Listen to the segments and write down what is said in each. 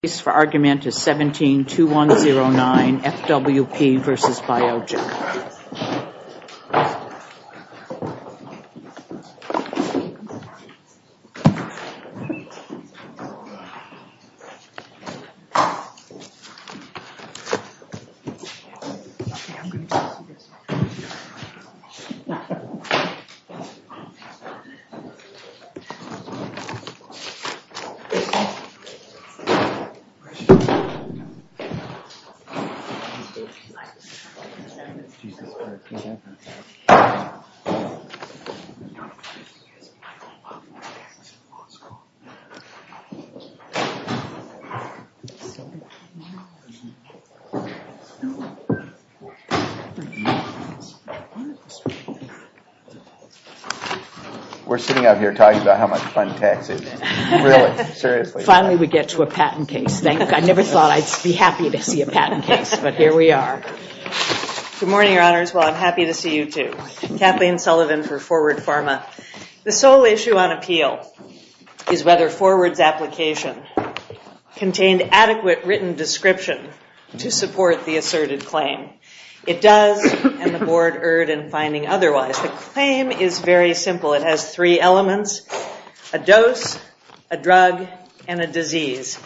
172109 FWP v. Biogen. We're sitting out here talking about how much fun tax is. Finally, we get to a patent case. I never thought I'd be happy to see a patent case, but here we are. Good morning, Your Honors. Well, I'm happy to see you, too. Kathleen Sullivan for Forward Pharma. The sole issue on appeal is whether Forward's application contained adequate written description to support the asserted claim. It does, and the Board erred in finding otherwise. The claim is very simple. It has three elements, a dose, a drug, and a disease.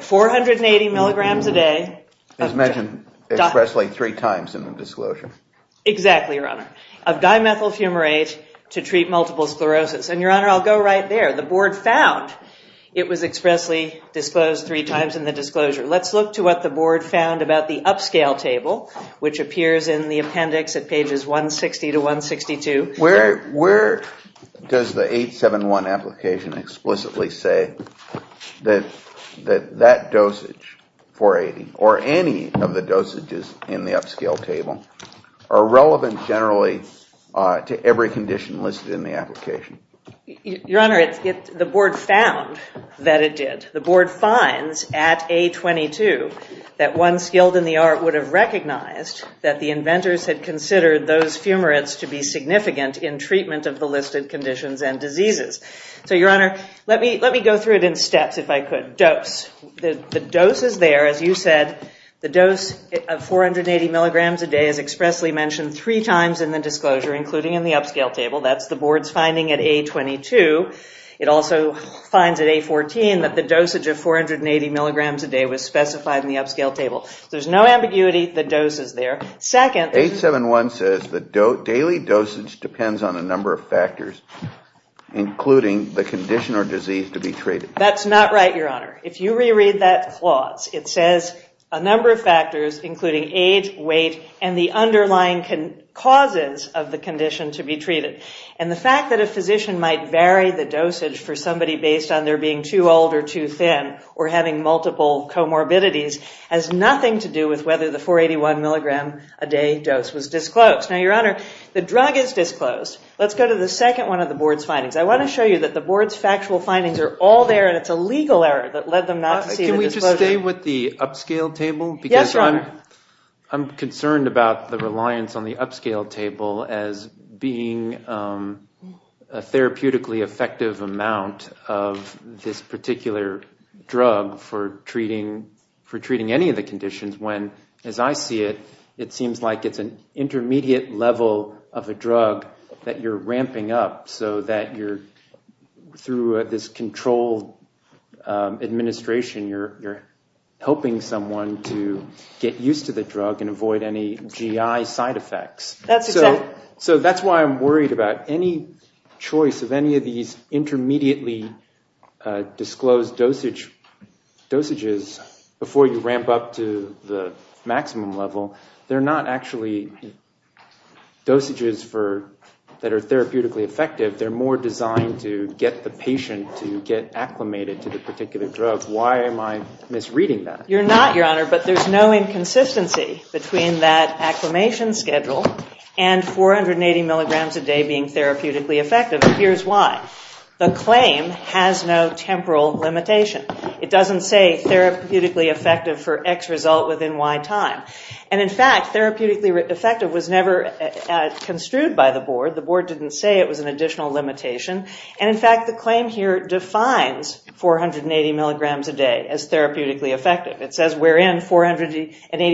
480 milligrams a day. As mentioned, expressly three times in the disclosure. Exactly, Your Honor. Of dimethyl fumarate to treat multiple sclerosis. And, Your Honor, I'll go right there. The Board found it was expressly disclosed three times in the disclosure. Let's look to what the Board found about the upscale table, which appears in the appendix at pages 160 to 162. Where does the 871 application explicitly say that that dosage, 480, or any of the dosages in the upscale table, are relevant generally to every condition listed in the application? Your Honor, the Board found that it did. The Board finds at A-22 that one skilled in the art would have recognized that the inventors had considered those fumarates to be significant in treatment of the listed conditions and diseases. So, Your Honor, let me go through it in steps if I could. Dose. The dose is there, as you said. The dose of 480 milligrams a day is expressly mentioned three times in the disclosure, including in the upscale table. That's the Board's finding at A-22. It also finds at A-14 that the dosage of 480 milligrams a day was specified in the upscale table. There's no ambiguity. The dose is there. Second, 871 says the daily dosage depends on a number of factors, including the condition or disease to be treated. That's not right, Your Honor. If you reread that clause, it says a number of factors, including age, weight, and the underlying causes of the condition to be treated. And the fact that a physician might vary the dosage for somebody based on their being too old or too thin or having multiple comorbidities has nothing to do with whether the 481 milligram a day dose was disclosed. Now, Your Honor, the drug is disclosed. Let's go to the second one of the Board's findings. I want to show you that the Board's factual findings are all there, and it's a legal error that led them not to see the disclosure. Can we just stay with the upscale table? Yes, Your Honor. I'm concerned about the reliance on the upscale table as being a therapeutically effective amount of this particular drug for treating any of the conditions when, as I see it, it seems like it's an intermediate level of a drug that you're ramping up, so that you're, through this controlled administration, you're helping someone to get used to the drug and avoid any GI side effects. That's exactly right. If they're more designed to get the patient to get acclimated to the particular drug, why am I misreading that? You're not, Your Honor, but there's no inconsistency between that acclimation schedule and 480 milligrams a day being therapeutically effective. Here's why. The claim has no temporal limitation. It doesn't say therapeutically effective for X result within Y time. And, in fact, therapeutically effective was never construed by the Board. The Board didn't say it was an additional limitation. And, in fact, the claim here defines 480 milligrams a day as therapeutically effective. It says we're in 480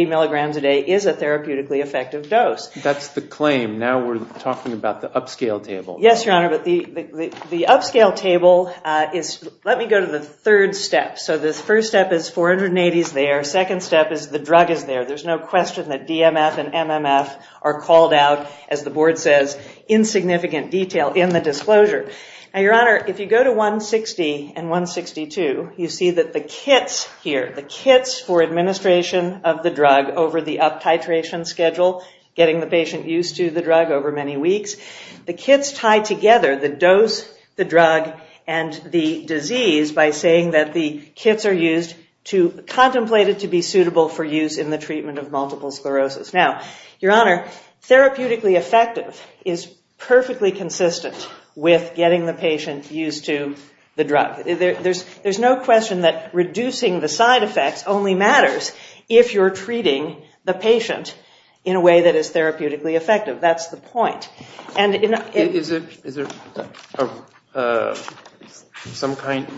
milligrams a day is a therapeutically effective dose. That's the claim. Now we're talking about the upscale table. Yes, Your Honor, but the upscale table is, let me go to the third step. So this first step is 480 is there. Second step is the drug is there. There's no question that DMF and MMF are called out, as the Board says, in significant detail in the disclosure. Now, Your Honor, if you go to 160 and 162, you see that the kits here, the kits for administration of the drug over the up titration schedule, getting the patient used to the drug over many weeks, the kits tie together the dose, the drug, and the disease by saying that the kits are used to contemplate it to be suitable for use in the treatment of multiple sclerosis. Now, Your Honor, therapeutically effective is perfectly consistent with getting the patient used to the drug. There's no question that reducing the side effects only matters if you're treating the patient in a way that is therapeutically effective. That's the point.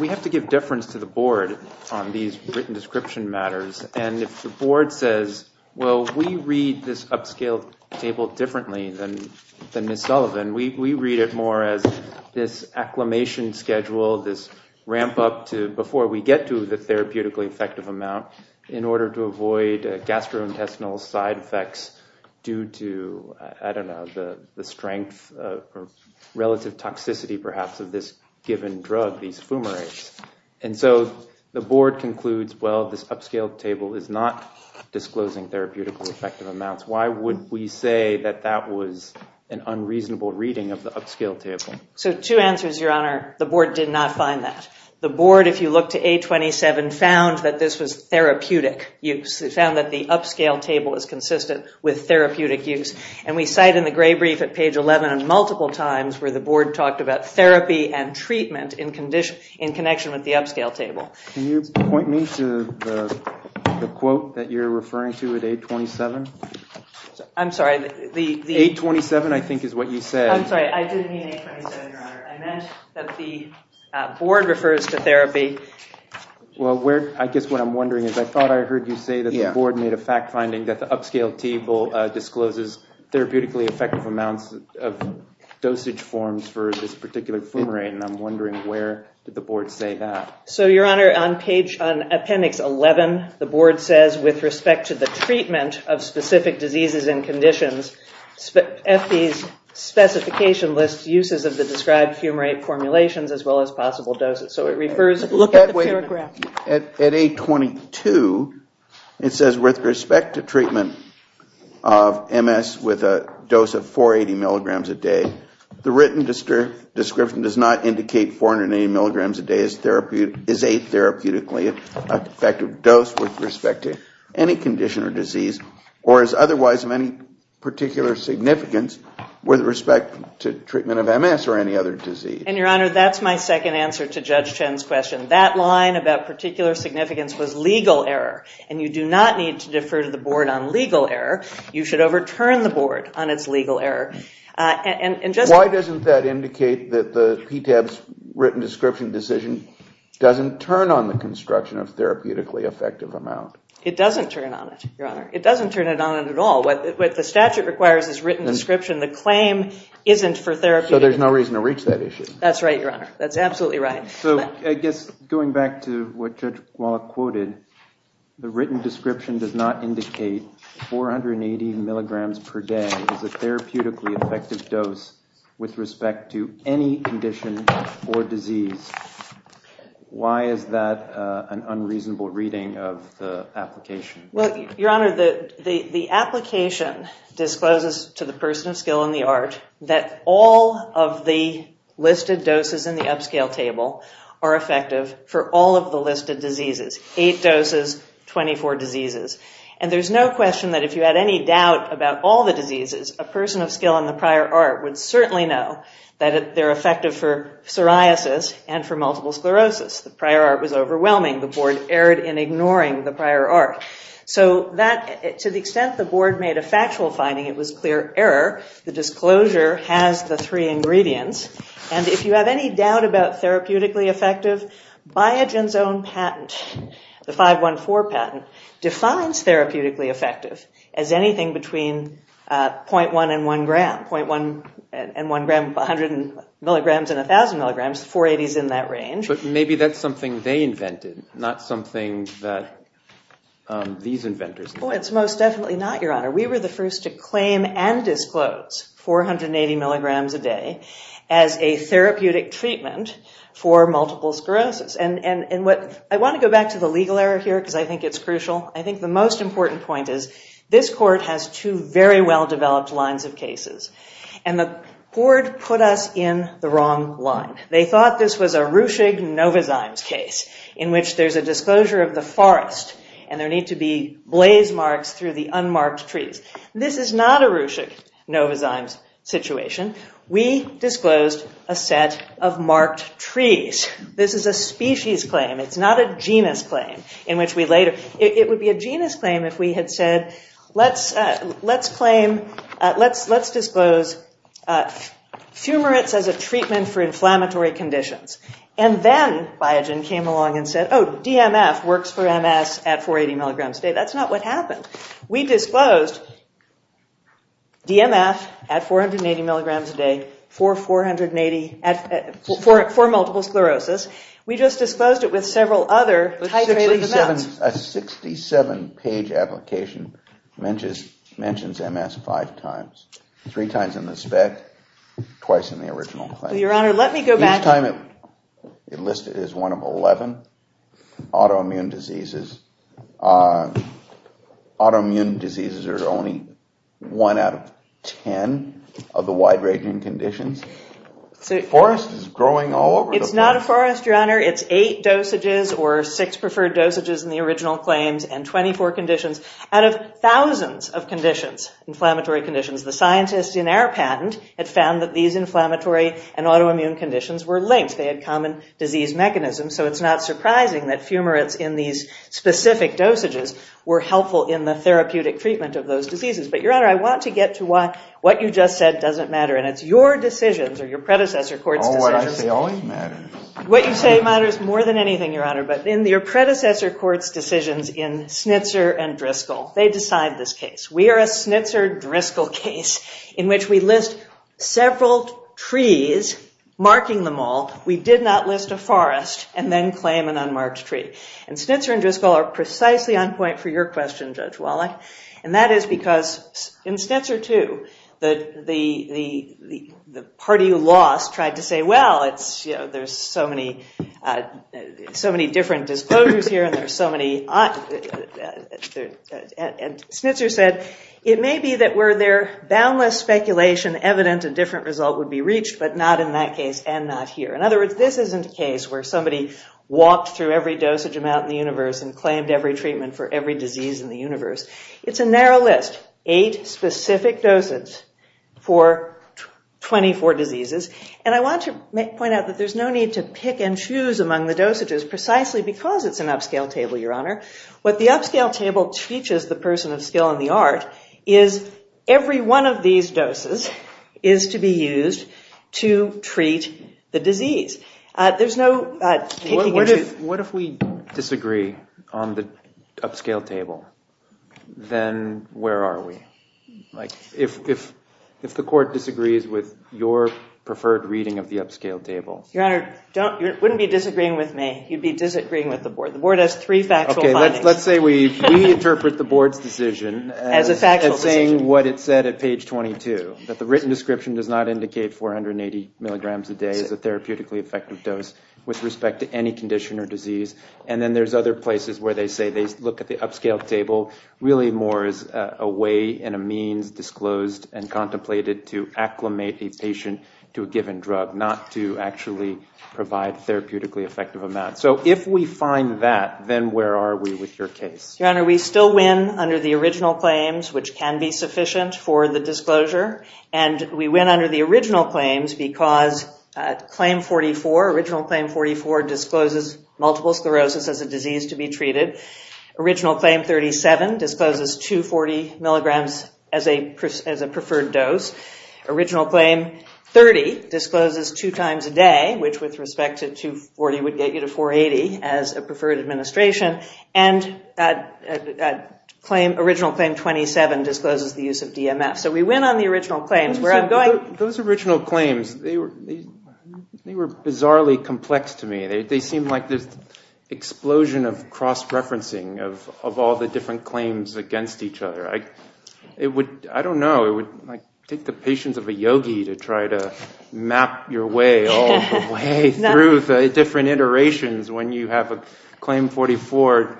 We have to give deference to the Board on these written description matters. And if the Board says, well, we read this upscale table differently than Ms. Sullivan, we read it more as this acclimation schedule, this ramp up to before we get to the therapeutically effective amount, in order to avoid gastrointestinal side effects due to, I don't know, the strength or relative toxicity, perhaps, of this given drug, these fumarates. And so the Board concludes, well, this upscale table is not disclosing therapeutically effective amounts. Why would we say that that was an unreasonable reading of the upscale table? So two answers, Your Honor. The Board did not find that. The Board, if you look to 827, found that this was therapeutic use. It found that the upscale table is consistent with therapeutic use. And we cite in the Gray Brief at page 11 multiple times where the Board talked about therapy and treatment in connection with the upscale table. Can you point me to the quote that you're referring to at 827? I'm sorry. 827, I think, is what you said. I didn't mean 827, Your Honor. I meant that the Board refers to therapy. Well, I guess what I'm wondering is I thought I heard you say that the Board made a fact finding that the upscale table discloses therapeutically effective amounts of dosage forms for this particular fumarate. And I'm wondering where did the Board say that? So, Your Honor, on appendix 11, the Board says, with respect to the treatment of specific diseases and conditions, FD's specification lists uses of the described fumarate formulations as well as possible doses. Look at the paragraph. At 822, it says with respect to treatment of MS with a dose of 480 milligrams a day, the written description does not indicate 480 milligrams a day is a therapeutically effective dose with respect to any condition or disease, or is otherwise of any particular significance with respect to treatment of MS or any other disease. And, Your Honor, that's my second answer to Judge Chen's question. That line about particular significance was legal error. And you do not need to defer to the Board on legal error. You should overturn the Board on its legal error. Why doesn't that indicate that the PTAB's written description decision doesn't turn on the construction of therapeutically effective amount? It doesn't turn on it, Your Honor. It doesn't turn it on at all. What the statute requires is written description. The claim isn't for therapeutic. So there's no reason to reach that issue. That's right, Your Honor. That's absolutely right. So I guess going back to what Judge Wallach quoted, the written description does not indicate 480 milligrams per day is a therapeutically effective dose with respect to any condition or disease. Why is that an unreasonable reading of the application? Well, Your Honor, the application discloses to the person of skill in the ART that all of the listed doses in the upscale table are effective for all of the listed diseases. Eight doses, 24 diseases. And there's no question that if you had any doubt about all the diseases, a person of skill in the prior ART would certainly know that they're effective for psoriasis and for multiple sclerosis. The prior ART was overwhelming. The board erred in ignoring the prior ART. So to the extent the board made a factual finding, it was clear error. The disclosure has the three ingredients. And if you have any doubt about therapeutically effective, Biogen's own patent, the 514 patent, defines therapeutically effective as anything between 0.1 and 1 gram. 0.1 and 1 gram, 100 milligrams and 1,000 milligrams. 480 is in that range. But maybe that's something they invented, not something that these inventors invented. Oh, it's most definitely not, Your Honor. We were the first to claim and disclose 480 milligrams a day as a therapeutic treatment for multiple sclerosis. And I want to go back to the legal error here, because I think it's crucial. I think the most important point is this court has two very well-developed lines of cases. And the board put us in the wrong line. They thought this was a Ruchig-Novazim's case in which there's a disclosure of the forest and there need to be blaze marks through the unmarked trees. This is not a Ruchig-Novazim's situation. We disclosed a set of marked trees. This is a species claim. It's not a genus claim in which we later – it would be a genus claim if we had said, let's claim – let's disclose fumarates as a treatment for inflammatory conditions. And then Biogen came along and said, oh, DMF works for MS at 480 milligrams a day. That's not what happened. We disclosed DMF at 480 milligrams a day for 480 – for multiple sclerosis. We just disclosed it with several other titrated amounts. A 67-page application mentions MS five times, three times in the spec, twice in the original claim. Each time it listed it as one of 11 autoimmune diseases. Autoimmune diseases are only one out of 10 of the wide-ranging conditions. It's eight dosages or six preferred dosages in the original claims and 24 conditions. Out of thousands of conditions, inflammatory conditions, the scientists in our patent had found that these inflammatory and autoimmune conditions were linked. They had common disease mechanisms. So it's not surprising that fumarates in these specific dosages were helpful in the therapeutic treatment of those diseases. But, Your Honor, I want to get to what you just said doesn't matter. And it's your decisions or your predecessor court's decisions. What you say matters more than anything, Your Honor. But in your predecessor court's decisions in Snitzer and Driscoll, they decide this case. We are a Snitzer-Driscoll case in which we list several trees, marking them all. We did not list a forest and then claim an unmarked tree. And Snitzer and Driscoll are precisely on point for your question, Judge Wallach. And that is because in Snitzer, too, the party you lost tried to say, well, there's so many different disclosures here and there's so many... And Snitzer said, it may be that were there boundless speculation, evident a different result would be reached, but not in that case and not here. In other words, this isn't a case where somebody walked through every dosage amount in the universe and claimed every treatment for every disease in the universe. It's a narrow list, eight specific doses for 24 diseases. And I want to point out that there's no need to pick and choose among the dosages precisely because it's an upscale table, Your Honor. What the upscale table teaches the person of skill and the art is every one of these doses is to be used to treat the disease. There's no picking and choosing. What if we disagree on the upscale table? Then where are we? If the court disagrees with your preferred reading of the upscale table... Your Honor, you wouldn't be disagreeing with me. You'd be disagreeing with the board. The board has three factual findings. Let's say we interpret the board's decision as saying what it said at page 22, that the written description does not indicate 480 milligrams a day is a therapeutically effective dose with respect to any condition or disease. And then there's other places where they say they look at the upscale table really more as a way and a means disclosed and contemplated to acclimate a patient to a given drug, not to actually provide therapeutically effective amounts. So if we find that, then where are we with your case? Your Honor, we still win under the original claims, which can be sufficient for the disclosure. And we win under the original claims because claim 44, original claim 44 discloses multiple sclerosis as a disease to be treated. Original claim 37 discloses 240 milligrams as a preferred dose. Original claim 30 discloses two times a day, which with respect to 240 would get you to 480 as a preferred administration. And original claim 27 discloses the use of DMF. So we win on the original claims. Those original claims, they were bizarrely complex to me. They seemed like this explosion of cross-referencing of all the different claims against each other. I don't know. It would take the patience of a yogi to try to map your way all the way through the different iterations when you have a claim 44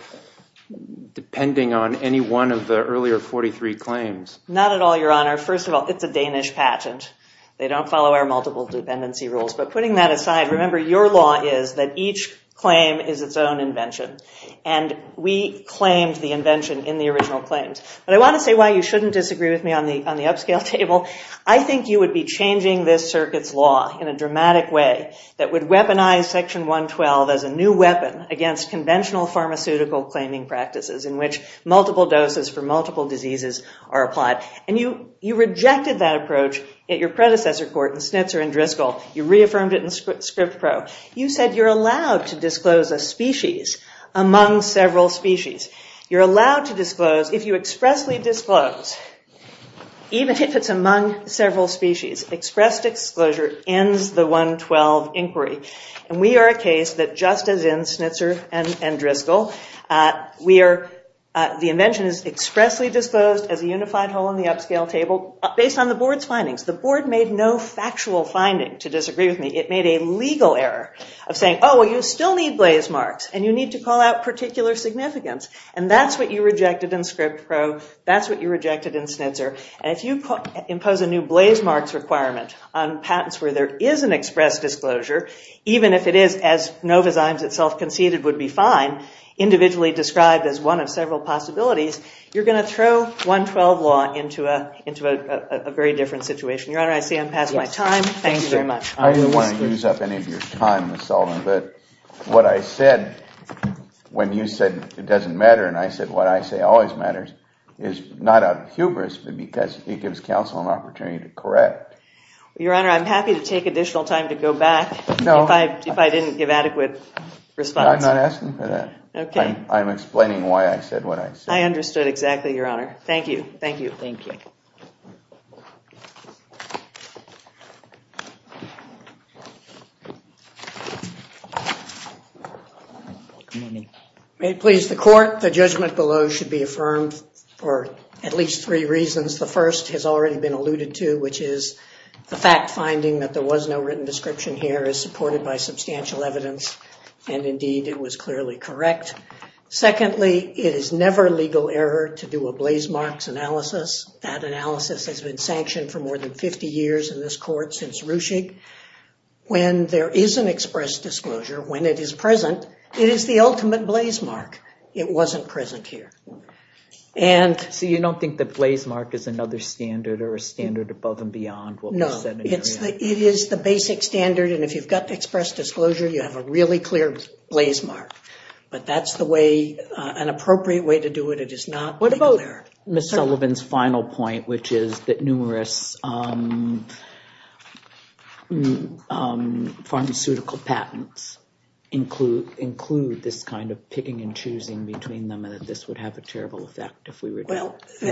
depending on any one of the earlier 43 claims. Not at all, Your Honor. First of all, it's a Danish patent. They don't follow our multiple dependency rules. But putting that aside, remember your law is that each claim is its own invention. And we claimed the invention in the original claims. But I want to say why you shouldn't disagree with me on the upscale table. I think you would be changing this circuit's law in a dramatic way that would weaponize Section 112 as a new weapon against conventional pharmaceutical claiming practices in which multiple doses for multiple diseases are applied. And you rejected that approach at your predecessor court in Schnitzer and Driscoll. You reaffirmed it in Script Pro. You said you're allowed to disclose a species among several species. You're allowed to disclose if you expressly disclose, even if it's among several species. Expressed disclosure ends the 112 inquiry. And we are a case that just as in Schnitzer and Driscoll, the invention is expressly disclosed as a unified whole in the upscale table based on the board's findings. The board made no factual finding to disagree with me. It made a legal error of saying, Oh, well, you still need blaze marks, and you need to call out particular significance. And that's what you rejected in Script Pro. That's what you rejected in Schnitzer. And if you impose a new blaze marks requirement on patents where there is an express disclosure, even if it is, as Novozymes itself conceded, would be fine, individually described as one of several possibilities, you're going to throw 112 law into a very different situation. Your Honor, I see I'm past my time. Thank you very much. I don't want to use up any of your time, Ms. Sullivan, but what I said when you said it doesn't matter, and I said what I say always matters, is not out of hubris, but because it gives counsel an opportunity to correct. Your Honor, I'm happy to take additional time to go back if I didn't give adequate response. I'm not asking for that. I'm explaining why I said what I said. I understood exactly, Your Honor. Thank you. May it please the Court, the judgment below should be affirmed for at least three reasons. The first has already been alluded to, which is the fact finding that there was no written description here is supported by substantial evidence, and indeed it was clearly correct. Secondly, it is never legal error to do a blazemarks analysis. That analysis has been sanctioned for more than 50 years in this court since Ruchig. When there is an express disclosure, when it is present, it is the ultimate blazemark. It wasn't present here. So you don't think that blazemark is another standard or a standard above and beyond what was said? No. It is the basic standard, and if you've got the express disclosure, you have a really clear blazemark. But that's the way, an appropriate way to do it. It is not legal error. What about Ms. Sullivan's final point, which is that numerous pharmaceutical patents include this kind of picking and choosing between them and that this would have a terrible effect if we were to do it?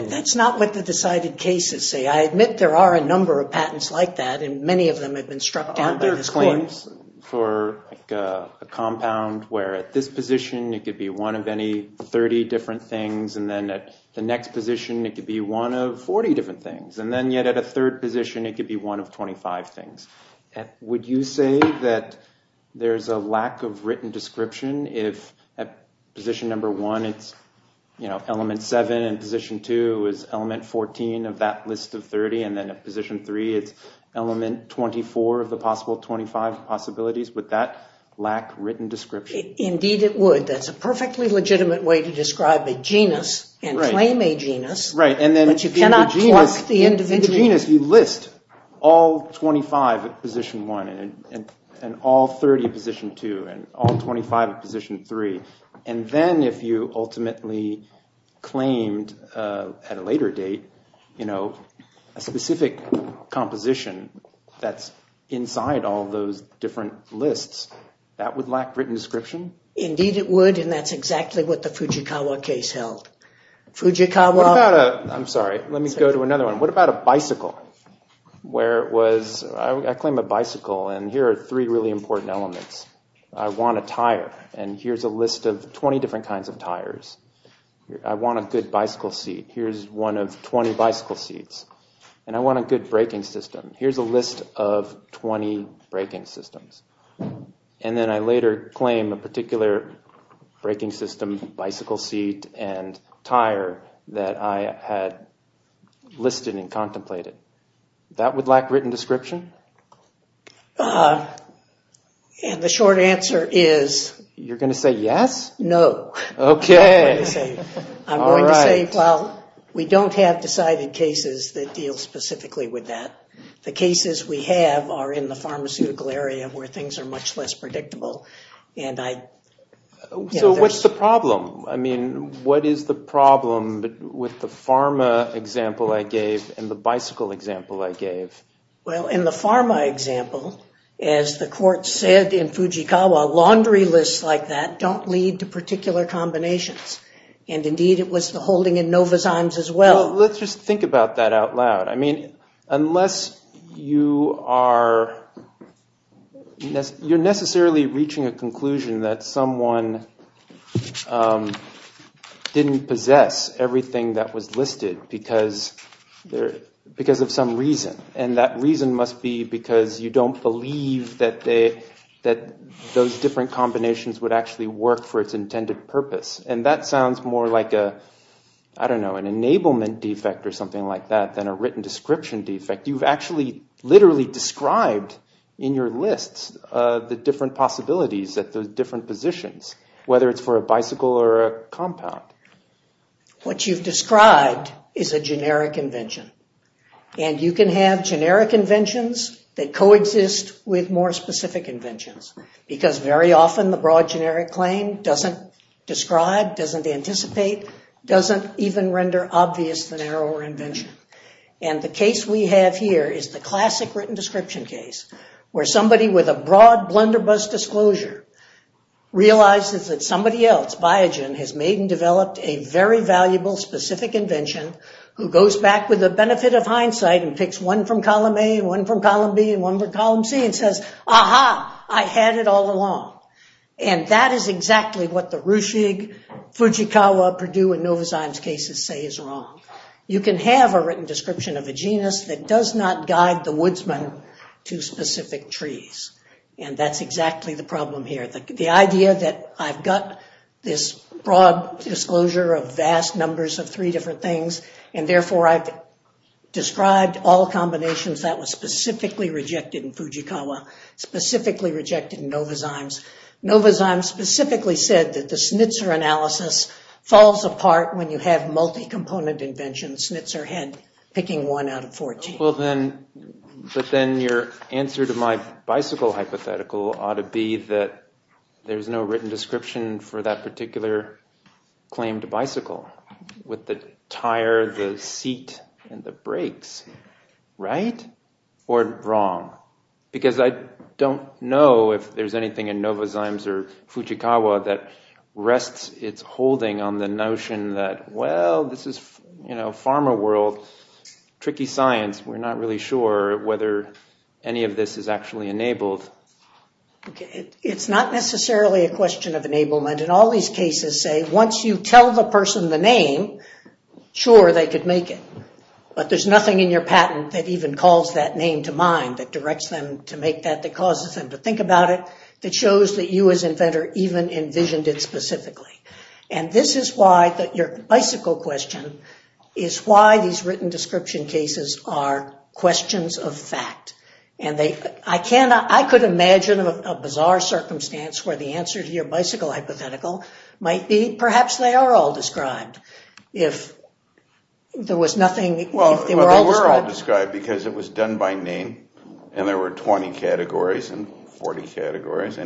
Well, that's not what the decided cases say. I admit there are a number of patents like that, and many of them have been struck down by this court. Are there claims for a compound where at this position it could be one of any 30 different things, and then at the next position it could be one of 40 different things, and then yet at a third position it could be one of 25 things? Would you say that there's a lack of written description if at position number one it's element seven and position two is element 14 of that list of 30, and then at position three it's element 24 of the possible 25 possibilities? Would that lack written description? Indeed it would. That's a perfectly legitimate way to describe a genus and claim a genus, but you cannot pluck the individual. In the genus you list all 25 at position one and all 30 at position two and all 25 at position three, and then if you ultimately claimed at a later date a specific composition that's inside all those different lists, that would lack written description? Indeed it would, and that's exactly what the Fujikawa case held. Fujikawa. I'm sorry. Let me go to another one. What about a bicycle? Where it was, I claim a bicycle, and here are three really important elements. I want a tire, and here's a list of 20 different kinds of tires. I want a good bicycle seat. Here's one of 20 bicycle seats. And I want a good braking system. Here's a list of 20 braking systems. And then I later claim a particular braking system, and tire that I had listed and contemplated. That would lack written description? And the short answer is? You're going to say yes? No. Okay. I'm going to say, well, we don't have decided cases that deal specifically with that. The cases we have are in the pharmaceutical area where things are much less predictable. So what's the problem? I mean, what is the problem with the pharma example I gave and the bicycle example I gave? Well, in the pharma example, as the court said in Fujikawa, laundry lists like that don't lead to particular combinations. And indeed, it was the holding in Novozymes as well. Well, let's just think about that out loud. I mean, unless you are necessarily reaching a conclusion that someone didn't possess everything that was listed because of some reason. And that reason must be because you don't believe that those different combinations would actually work for its intended purpose. And that sounds more like an enablement defect or something like that than a written description defect. You've actually literally described in your lists the different possibilities at the different positions, whether it's for a bicycle or a compound. What you've described is a generic invention. And you can have generic inventions that coexist with more specific inventions because very often the broad generic claim doesn't describe, doesn't anticipate, doesn't even render obvious the narrower invention. And the case we have here is the classic written description case where somebody with a broad blunderbuss disclosure realizes that somebody else, Biogen, has made and developed a very valuable specific invention who goes back with the benefit of hindsight and picks one from column A and one from column B and one from column C and says, aha, I had it all along. And that is exactly what the Ruschig, Fujikawa, Purdue, and Novozymes cases say is wrong. You can have a written description of a genus that does not guide the woodsman to specific trees. And that's exactly the problem here. The idea that I've got this broad disclosure of vast numbers of three different things and therefore I've described all combinations that was specifically rejected in Fujikawa, specifically rejected in Novozymes. Novozymes specifically said that the Schnitzer analysis falls apart when you have multi-component inventions, Schnitzer had picking one out of 14. But then your answer to my bicycle hypothetical ought to be that there's no written description for that particular claim to bicycle with the tire, the seat, and the brakes, right? Or wrong? Because I don't know if there's anything in Novozymes or Fujikawa that rests its holding on the notion that, well, this is pharma world, tricky science. We're not really sure whether any of this is actually enabled. It's not necessarily a question of enablement. In all these cases, say, once you tell the person the name, sure, they could make it. But there's nothing in your patent that even calls that name to mind, that directs them to make that, that causes them to think about it, that shows that you as inventor even envisioned it specifically. And this is why that your bicycle question is why these written description cases are questions of fact. And I could imagine a bizarre circumstance where the answer to your bicycle hypothetical might be perhaps they are all described. If there was nothing, if they were all described. If they were all described because it was done by name and there were 20 categories and 40 categories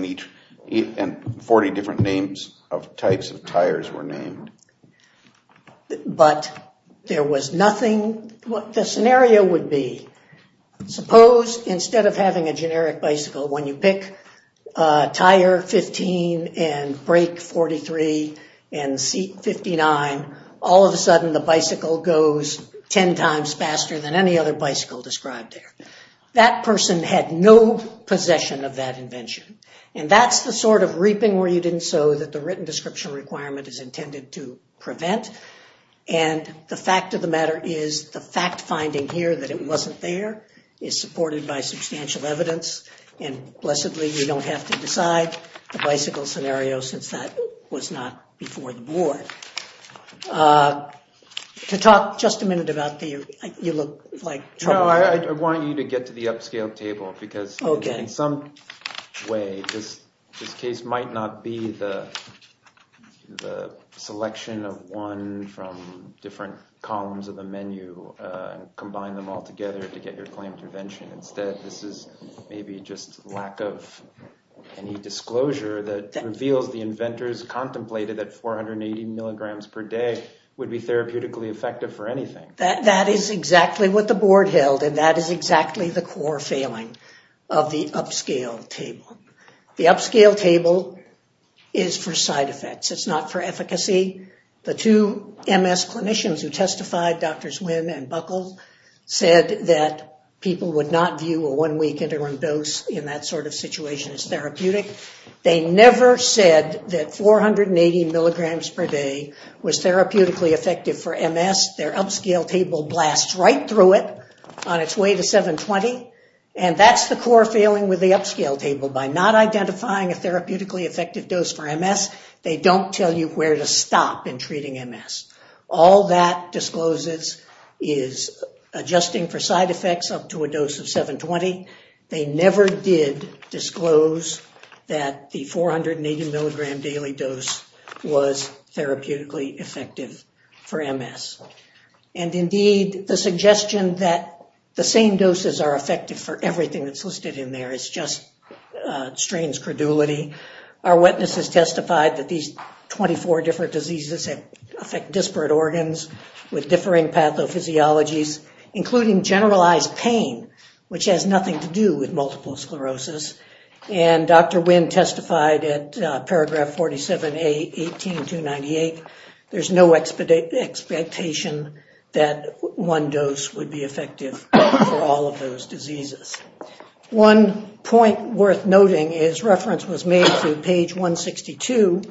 and 40 different names of types of tires were named. But there was nothing. What the scenario would be, suppose instead of having a generic bicycle, when you pick tire 15 and brake 43 and seat 59, all of a sudden the bicycle goes 10 times faster than any other bicycle described there. That person had no possession of that invention. And that's the sort of reaping where you didn't sow that the written description requirement is intended to prevent. And the fact of the matter is the fact finding here that it wasn't there is supported by substantial evidence and blessedly you don't have to decide the bicycle scenario since that was not before the board. To talk just a minute about the, you look like trouble. I want you to get to the upscale table because in some way this case might not be the selection of one from different columns of the menu and combine them all together to get your claim prevention. Instead, this is maybe just lack of any disclosure that reveals the inventors contemplated that 480 milligrams per day would be therapeutically effective for anything. That is exactly what the board held and that is exactly the core failing of the upscale table. The upscale table is for side effects. It's not for efficacy. The two MS clinicians who testified, Drs. Wynn and Buckle, said that people would not view a one week interim dose in that sort of situation as therapeutic. They never said that 480 milligrams per day was therapeutically effective for MS. Their upscale table blasts right through it on its way to 720 and that's the core failing with the upscale table. By not identifying a therapeutically effective dose for MS, they don't tell you where to stop in treating MS. All that discloses is adjusting for side effects up to a dose of 720. They never did disclose that the 480 milligram daily dose was therapeutically effective for MS. Indeed, the suggestion that the same doses are effective for everything that's listed in there is just strange credulity. Our witnesses testified that these 24 different diseases affect disparate organs with differing pathophysiologies, including generalized pain, which has nothing to do with multiple sclerosis. And Dr. Wynn testified at paragraph 47A, 18298, there's no expectation that one dose would be effective for all of those diseases. One point worth noting is reference was made to page 162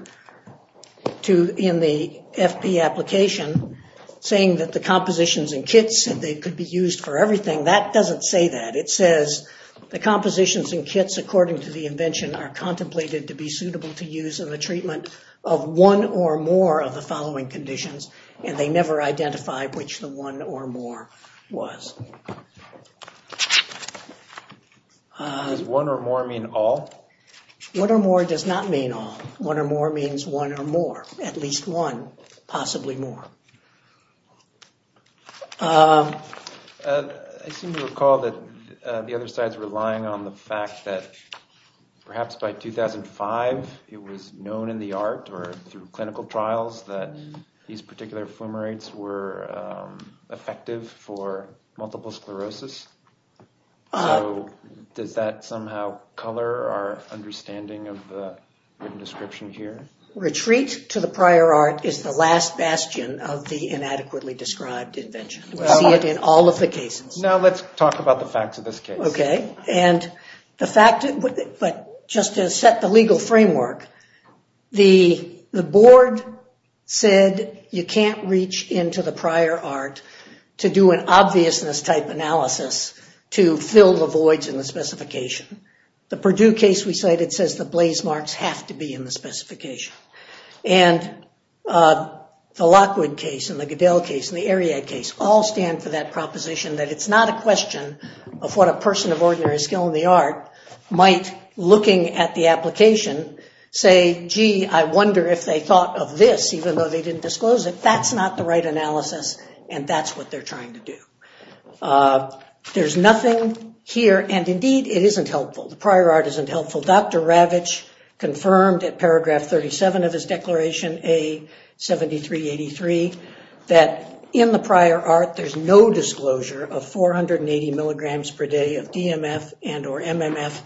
in the FP application saying that the compositions and kits said they could be used for everything. That doesn't say that. It says the compositions and kits according to the invention are contemplated to be suitable to use in the treatment of one or more of the following conditions, and they never identified which the one or more was. Does one or more mean all? One or more does not mean all. One or more means one or more, at least one, possibly more. I seem to recall that the other side's relying on the fact that perhaps by 2005 it was known in the art or through clinical trials that these particular fumarates were effective for multiple sclerosis. So does that somehow color our understanding of the description here? Retreat to the prior art is the last bastion of the inadequately described invention. We see it in all of the cases. Now let's talk about the facts of this case. Okay. But just to set the legal framework, the board said you can't reach into the prior art to do an obviousness type analysis to fill the voids in the specification. The Purdue case we cited says the blaze marks have to be in the specification. And the Lockwood case and the Goodell case and the Ariad case all stand for that proposition that it's not a question of what a person of ordinary skill in the art might, looking at the application, say, gee, I wonder if they thought of this even though they didn't disclose it. That's not the right analysis and that's what they're trying to do. There's nothing here, and indeed it isn't helpful. The prior art isn't helpful. Dr. Ravitch confirmed in paragraph 37 of his declaration, A7383, that in the prior art there's no disclosure of 480 milligrams per day of DMF and or MMF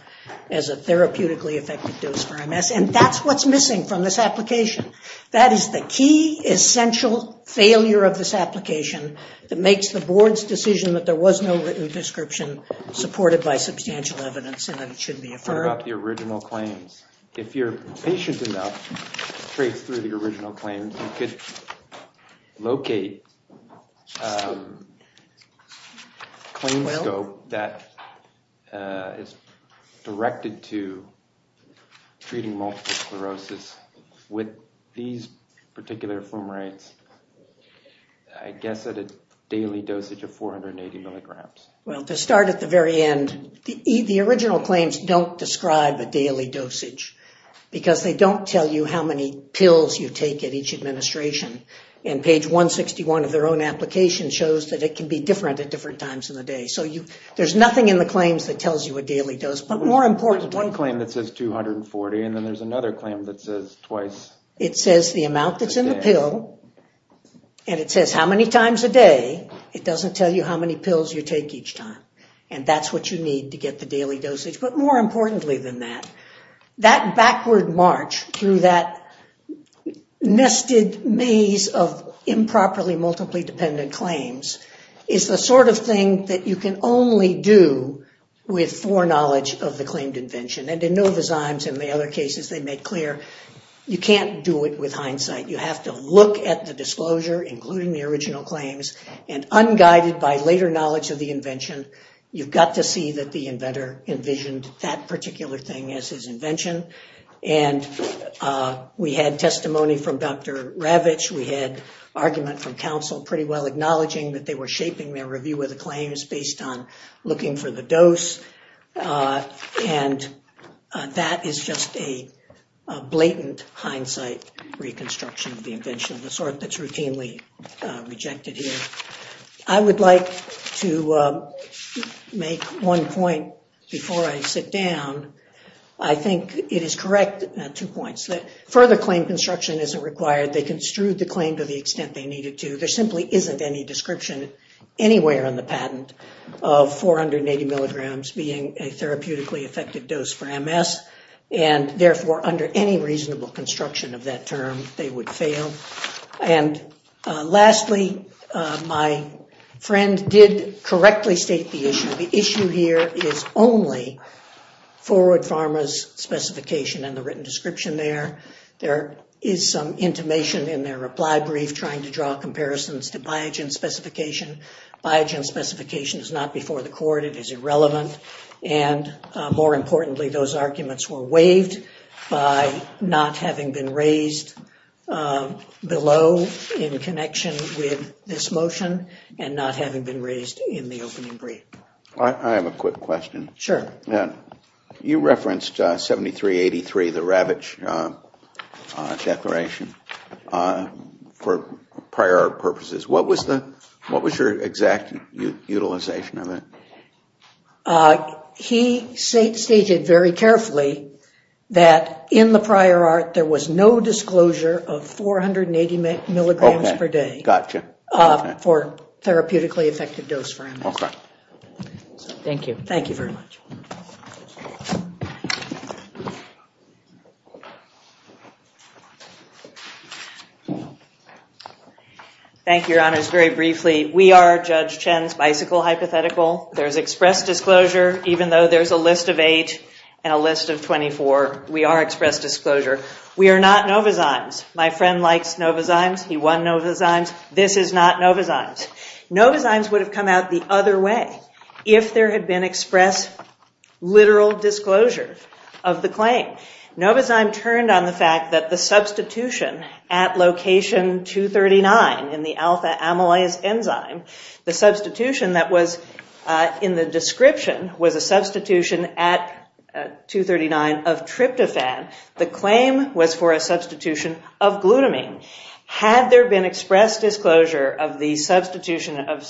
as a therapeutically effective dose for MS. And that's what's missing from this application. That is the key essential failure of this application that makes the board's decision that there was no written description supported by substantial evidence and that it shouldn't be affirmed. What about the original claims? If you're patient enough straight through the original claims, you could locate a claim scope that is directed to treating multiple sclerosis with these particular fumarates, I guess at a daily dosage of 480 milligrams. Well, to start at the very end, the original claims don't describe a daily dosage because they don't tell you how many pills you take at each administration. And page 161 of their own application shows that it can be different at different times in the day. So there's nothing in the claims that tells you a daily dose. But more important... One claim that says 240, and then there's another claim that says twice a day. It says the amount that's in the pill, and it says how many times a day. It doesn't tell you how many pills you take each time. And that's what you need to get the daily dosage. But more importantly than that, that backward march through that nested maze of improperly multiply-dependent claims is the sort of thing that you can only do with foreknowledge of the claimed invention. And in Novozymes and the other cases, they make clear you can't do it with hindsight. You have to look at the disclosure, including the original claims, and unguided by later knowledge of the invention, you've got to see that the inventor envisioned that particular thing as his invention. And we had testimony from Dr. Ravitch. We had argument from counsel pretty well acknowledging that they were shaping their review of the claims based on looking for the dose. And that is just a blatant hindsight reconstruction of the invention of the sort that's routinely rejected here. I would like to make one point before I sit down. I think it is correct, two points, that further claim construction isn't required. They construed the claim to the extent they needed to. There simply isn't any description anywhere on the patent of 480 milligrams being a therapeutically effective dose for MS. And therefore, under any reasonable construction of that term, they would fail. And lastly, my friend did correctly state the issue. The issue here is only Forward Pharma's specification and the written description there. There is some intimation in their reply brief trying to draw comparisons to Biogen's specification. Biogen's specification is not before the court. It is irrelevant. And more importantly, those arguments were waived by not having been raised below in connection with this motion and not having been raised in the opening brief. I have a quick question. Sure. You referenced 7383, the Ravitch Declaration, for prior purposes. What was your exact utilization of it? He stated very carefully that in the prior art there was no disclosure of 480 milligrams per day for therapeutically effective dose for MS. Okay. Thank you. Thank you very much. Thank you, Your Honors. Just very briefly, we are Judge Chen's bicycle hypothetical. There is express disclosure. Even though there's a list of 8 and a list of 24, we are express disclosure. We are not Novozymes. My friend likes Novozymes. He won Novozymes. This is not Novozymes. Novozymes would have come out the other way if there had been express literal disclosure of the claim. Novozyme turned on the fact that the substitution at location 239 in the alpha amylase enzyme, the substitution that was in the description was a substitution at 239 of tryptophan. The claim was for a substitution of glutamine. Had there been express disclosure of the substitution of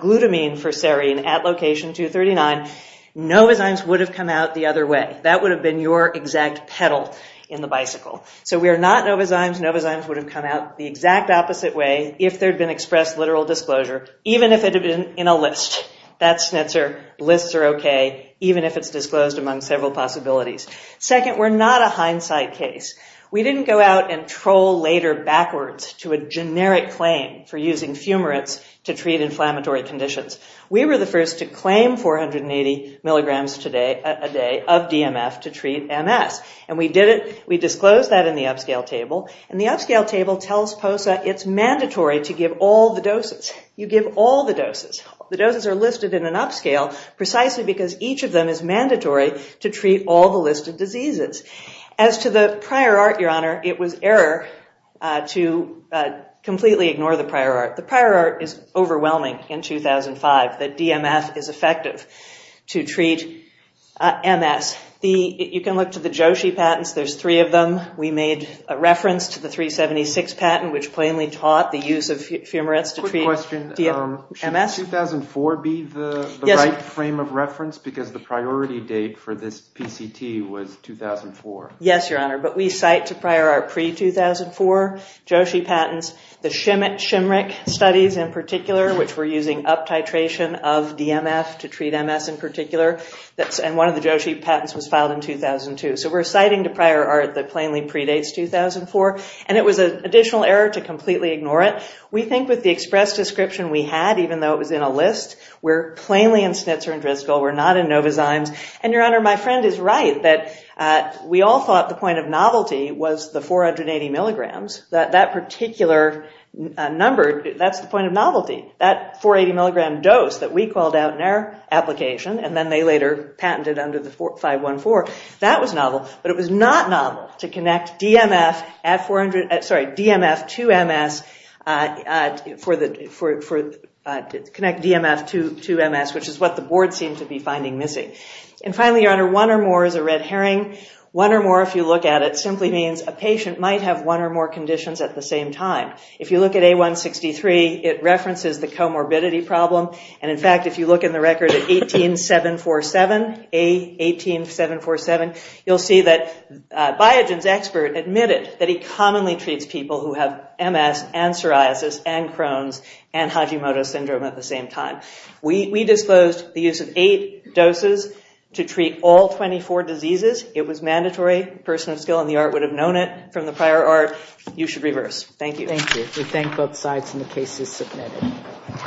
glutamine for serine at location 239, Novozymes would have come out the other way. That would have been your exact pedal in the bicycle. So we are not Novozymes. Novozymes would have come out the exact opposite way if there had been express literal disclosure, even if it had been in a list. That's Schnitzer. Lists are okay, even if it's disclosed among several possibilities. Second, we're not a hindsight case. We didn't go out and troll later backwards to a generic claim for using fumarates to treat inflammatory conditions. We were the first to claim 480 milligrams a day of DMF to treat MS, and we did it. We disclosed that in the upscale table, and the upscale table tells POSA it's mandatory to give all the doses. You give all the doses. The doses are listed in an upscale precisely because each of them is mandatory to treat all the listed diseases. As to the prior art, Your Honor, it was error to completely ignore the prior art. The prior art is overwhelming in 2005 that DMF is effective to treat MS. You can look to the Joshi patents. There's three of them. We made a reference to the 376 patent, which plainly taught the use of fumarates to treat DMF and MS. Should 2004 be the right frame of reference because the priority date for this PCT was 2004? Yes, Your Honor, but we cite to prior art pre-2004 Joshi patents. The Shimrick studies in particular, which were using up titration of DMF to treat MS in particular, and one of the Joshi patents was filed in 2002. So we're citing to prior art that plainly predates 2004, and it was an additional error to completely ignore it. We think with the express description we had, even though it was in a list, we're plainly in schnitzer and driscoll. We're not in novazymes. And, Your Honor, my friend is right that we all thought the point of novelty was the 480 milligrams. That particular number, that's the point of novelty. That 480 milligram dose that we called out in our application, and then they later patented under the 514, that was novel, but it was not novel to connect DMF to MS, which is what the board seemed to be finding missing. And finally, Your Honor, one or more is a red herring. One or more, if you look at it, simply means a patient might have one or more conditions at the same time. If you look at A163, it references the comorbidity problem, and in fact, if you look in the record at 18747, A18747, you'll see that Biogen's expert admitted that he commonly treats people who have MS and psoriasis and Crohn's and Hajimoto syndrome at the same time. We disclosed the use of eight doses to treat all 24 diseases. It was mandatory. A person of skill in the art would have known it from the prior art. You should reverse. Thank you. Thank you. We thank both sides, and the case is submitted.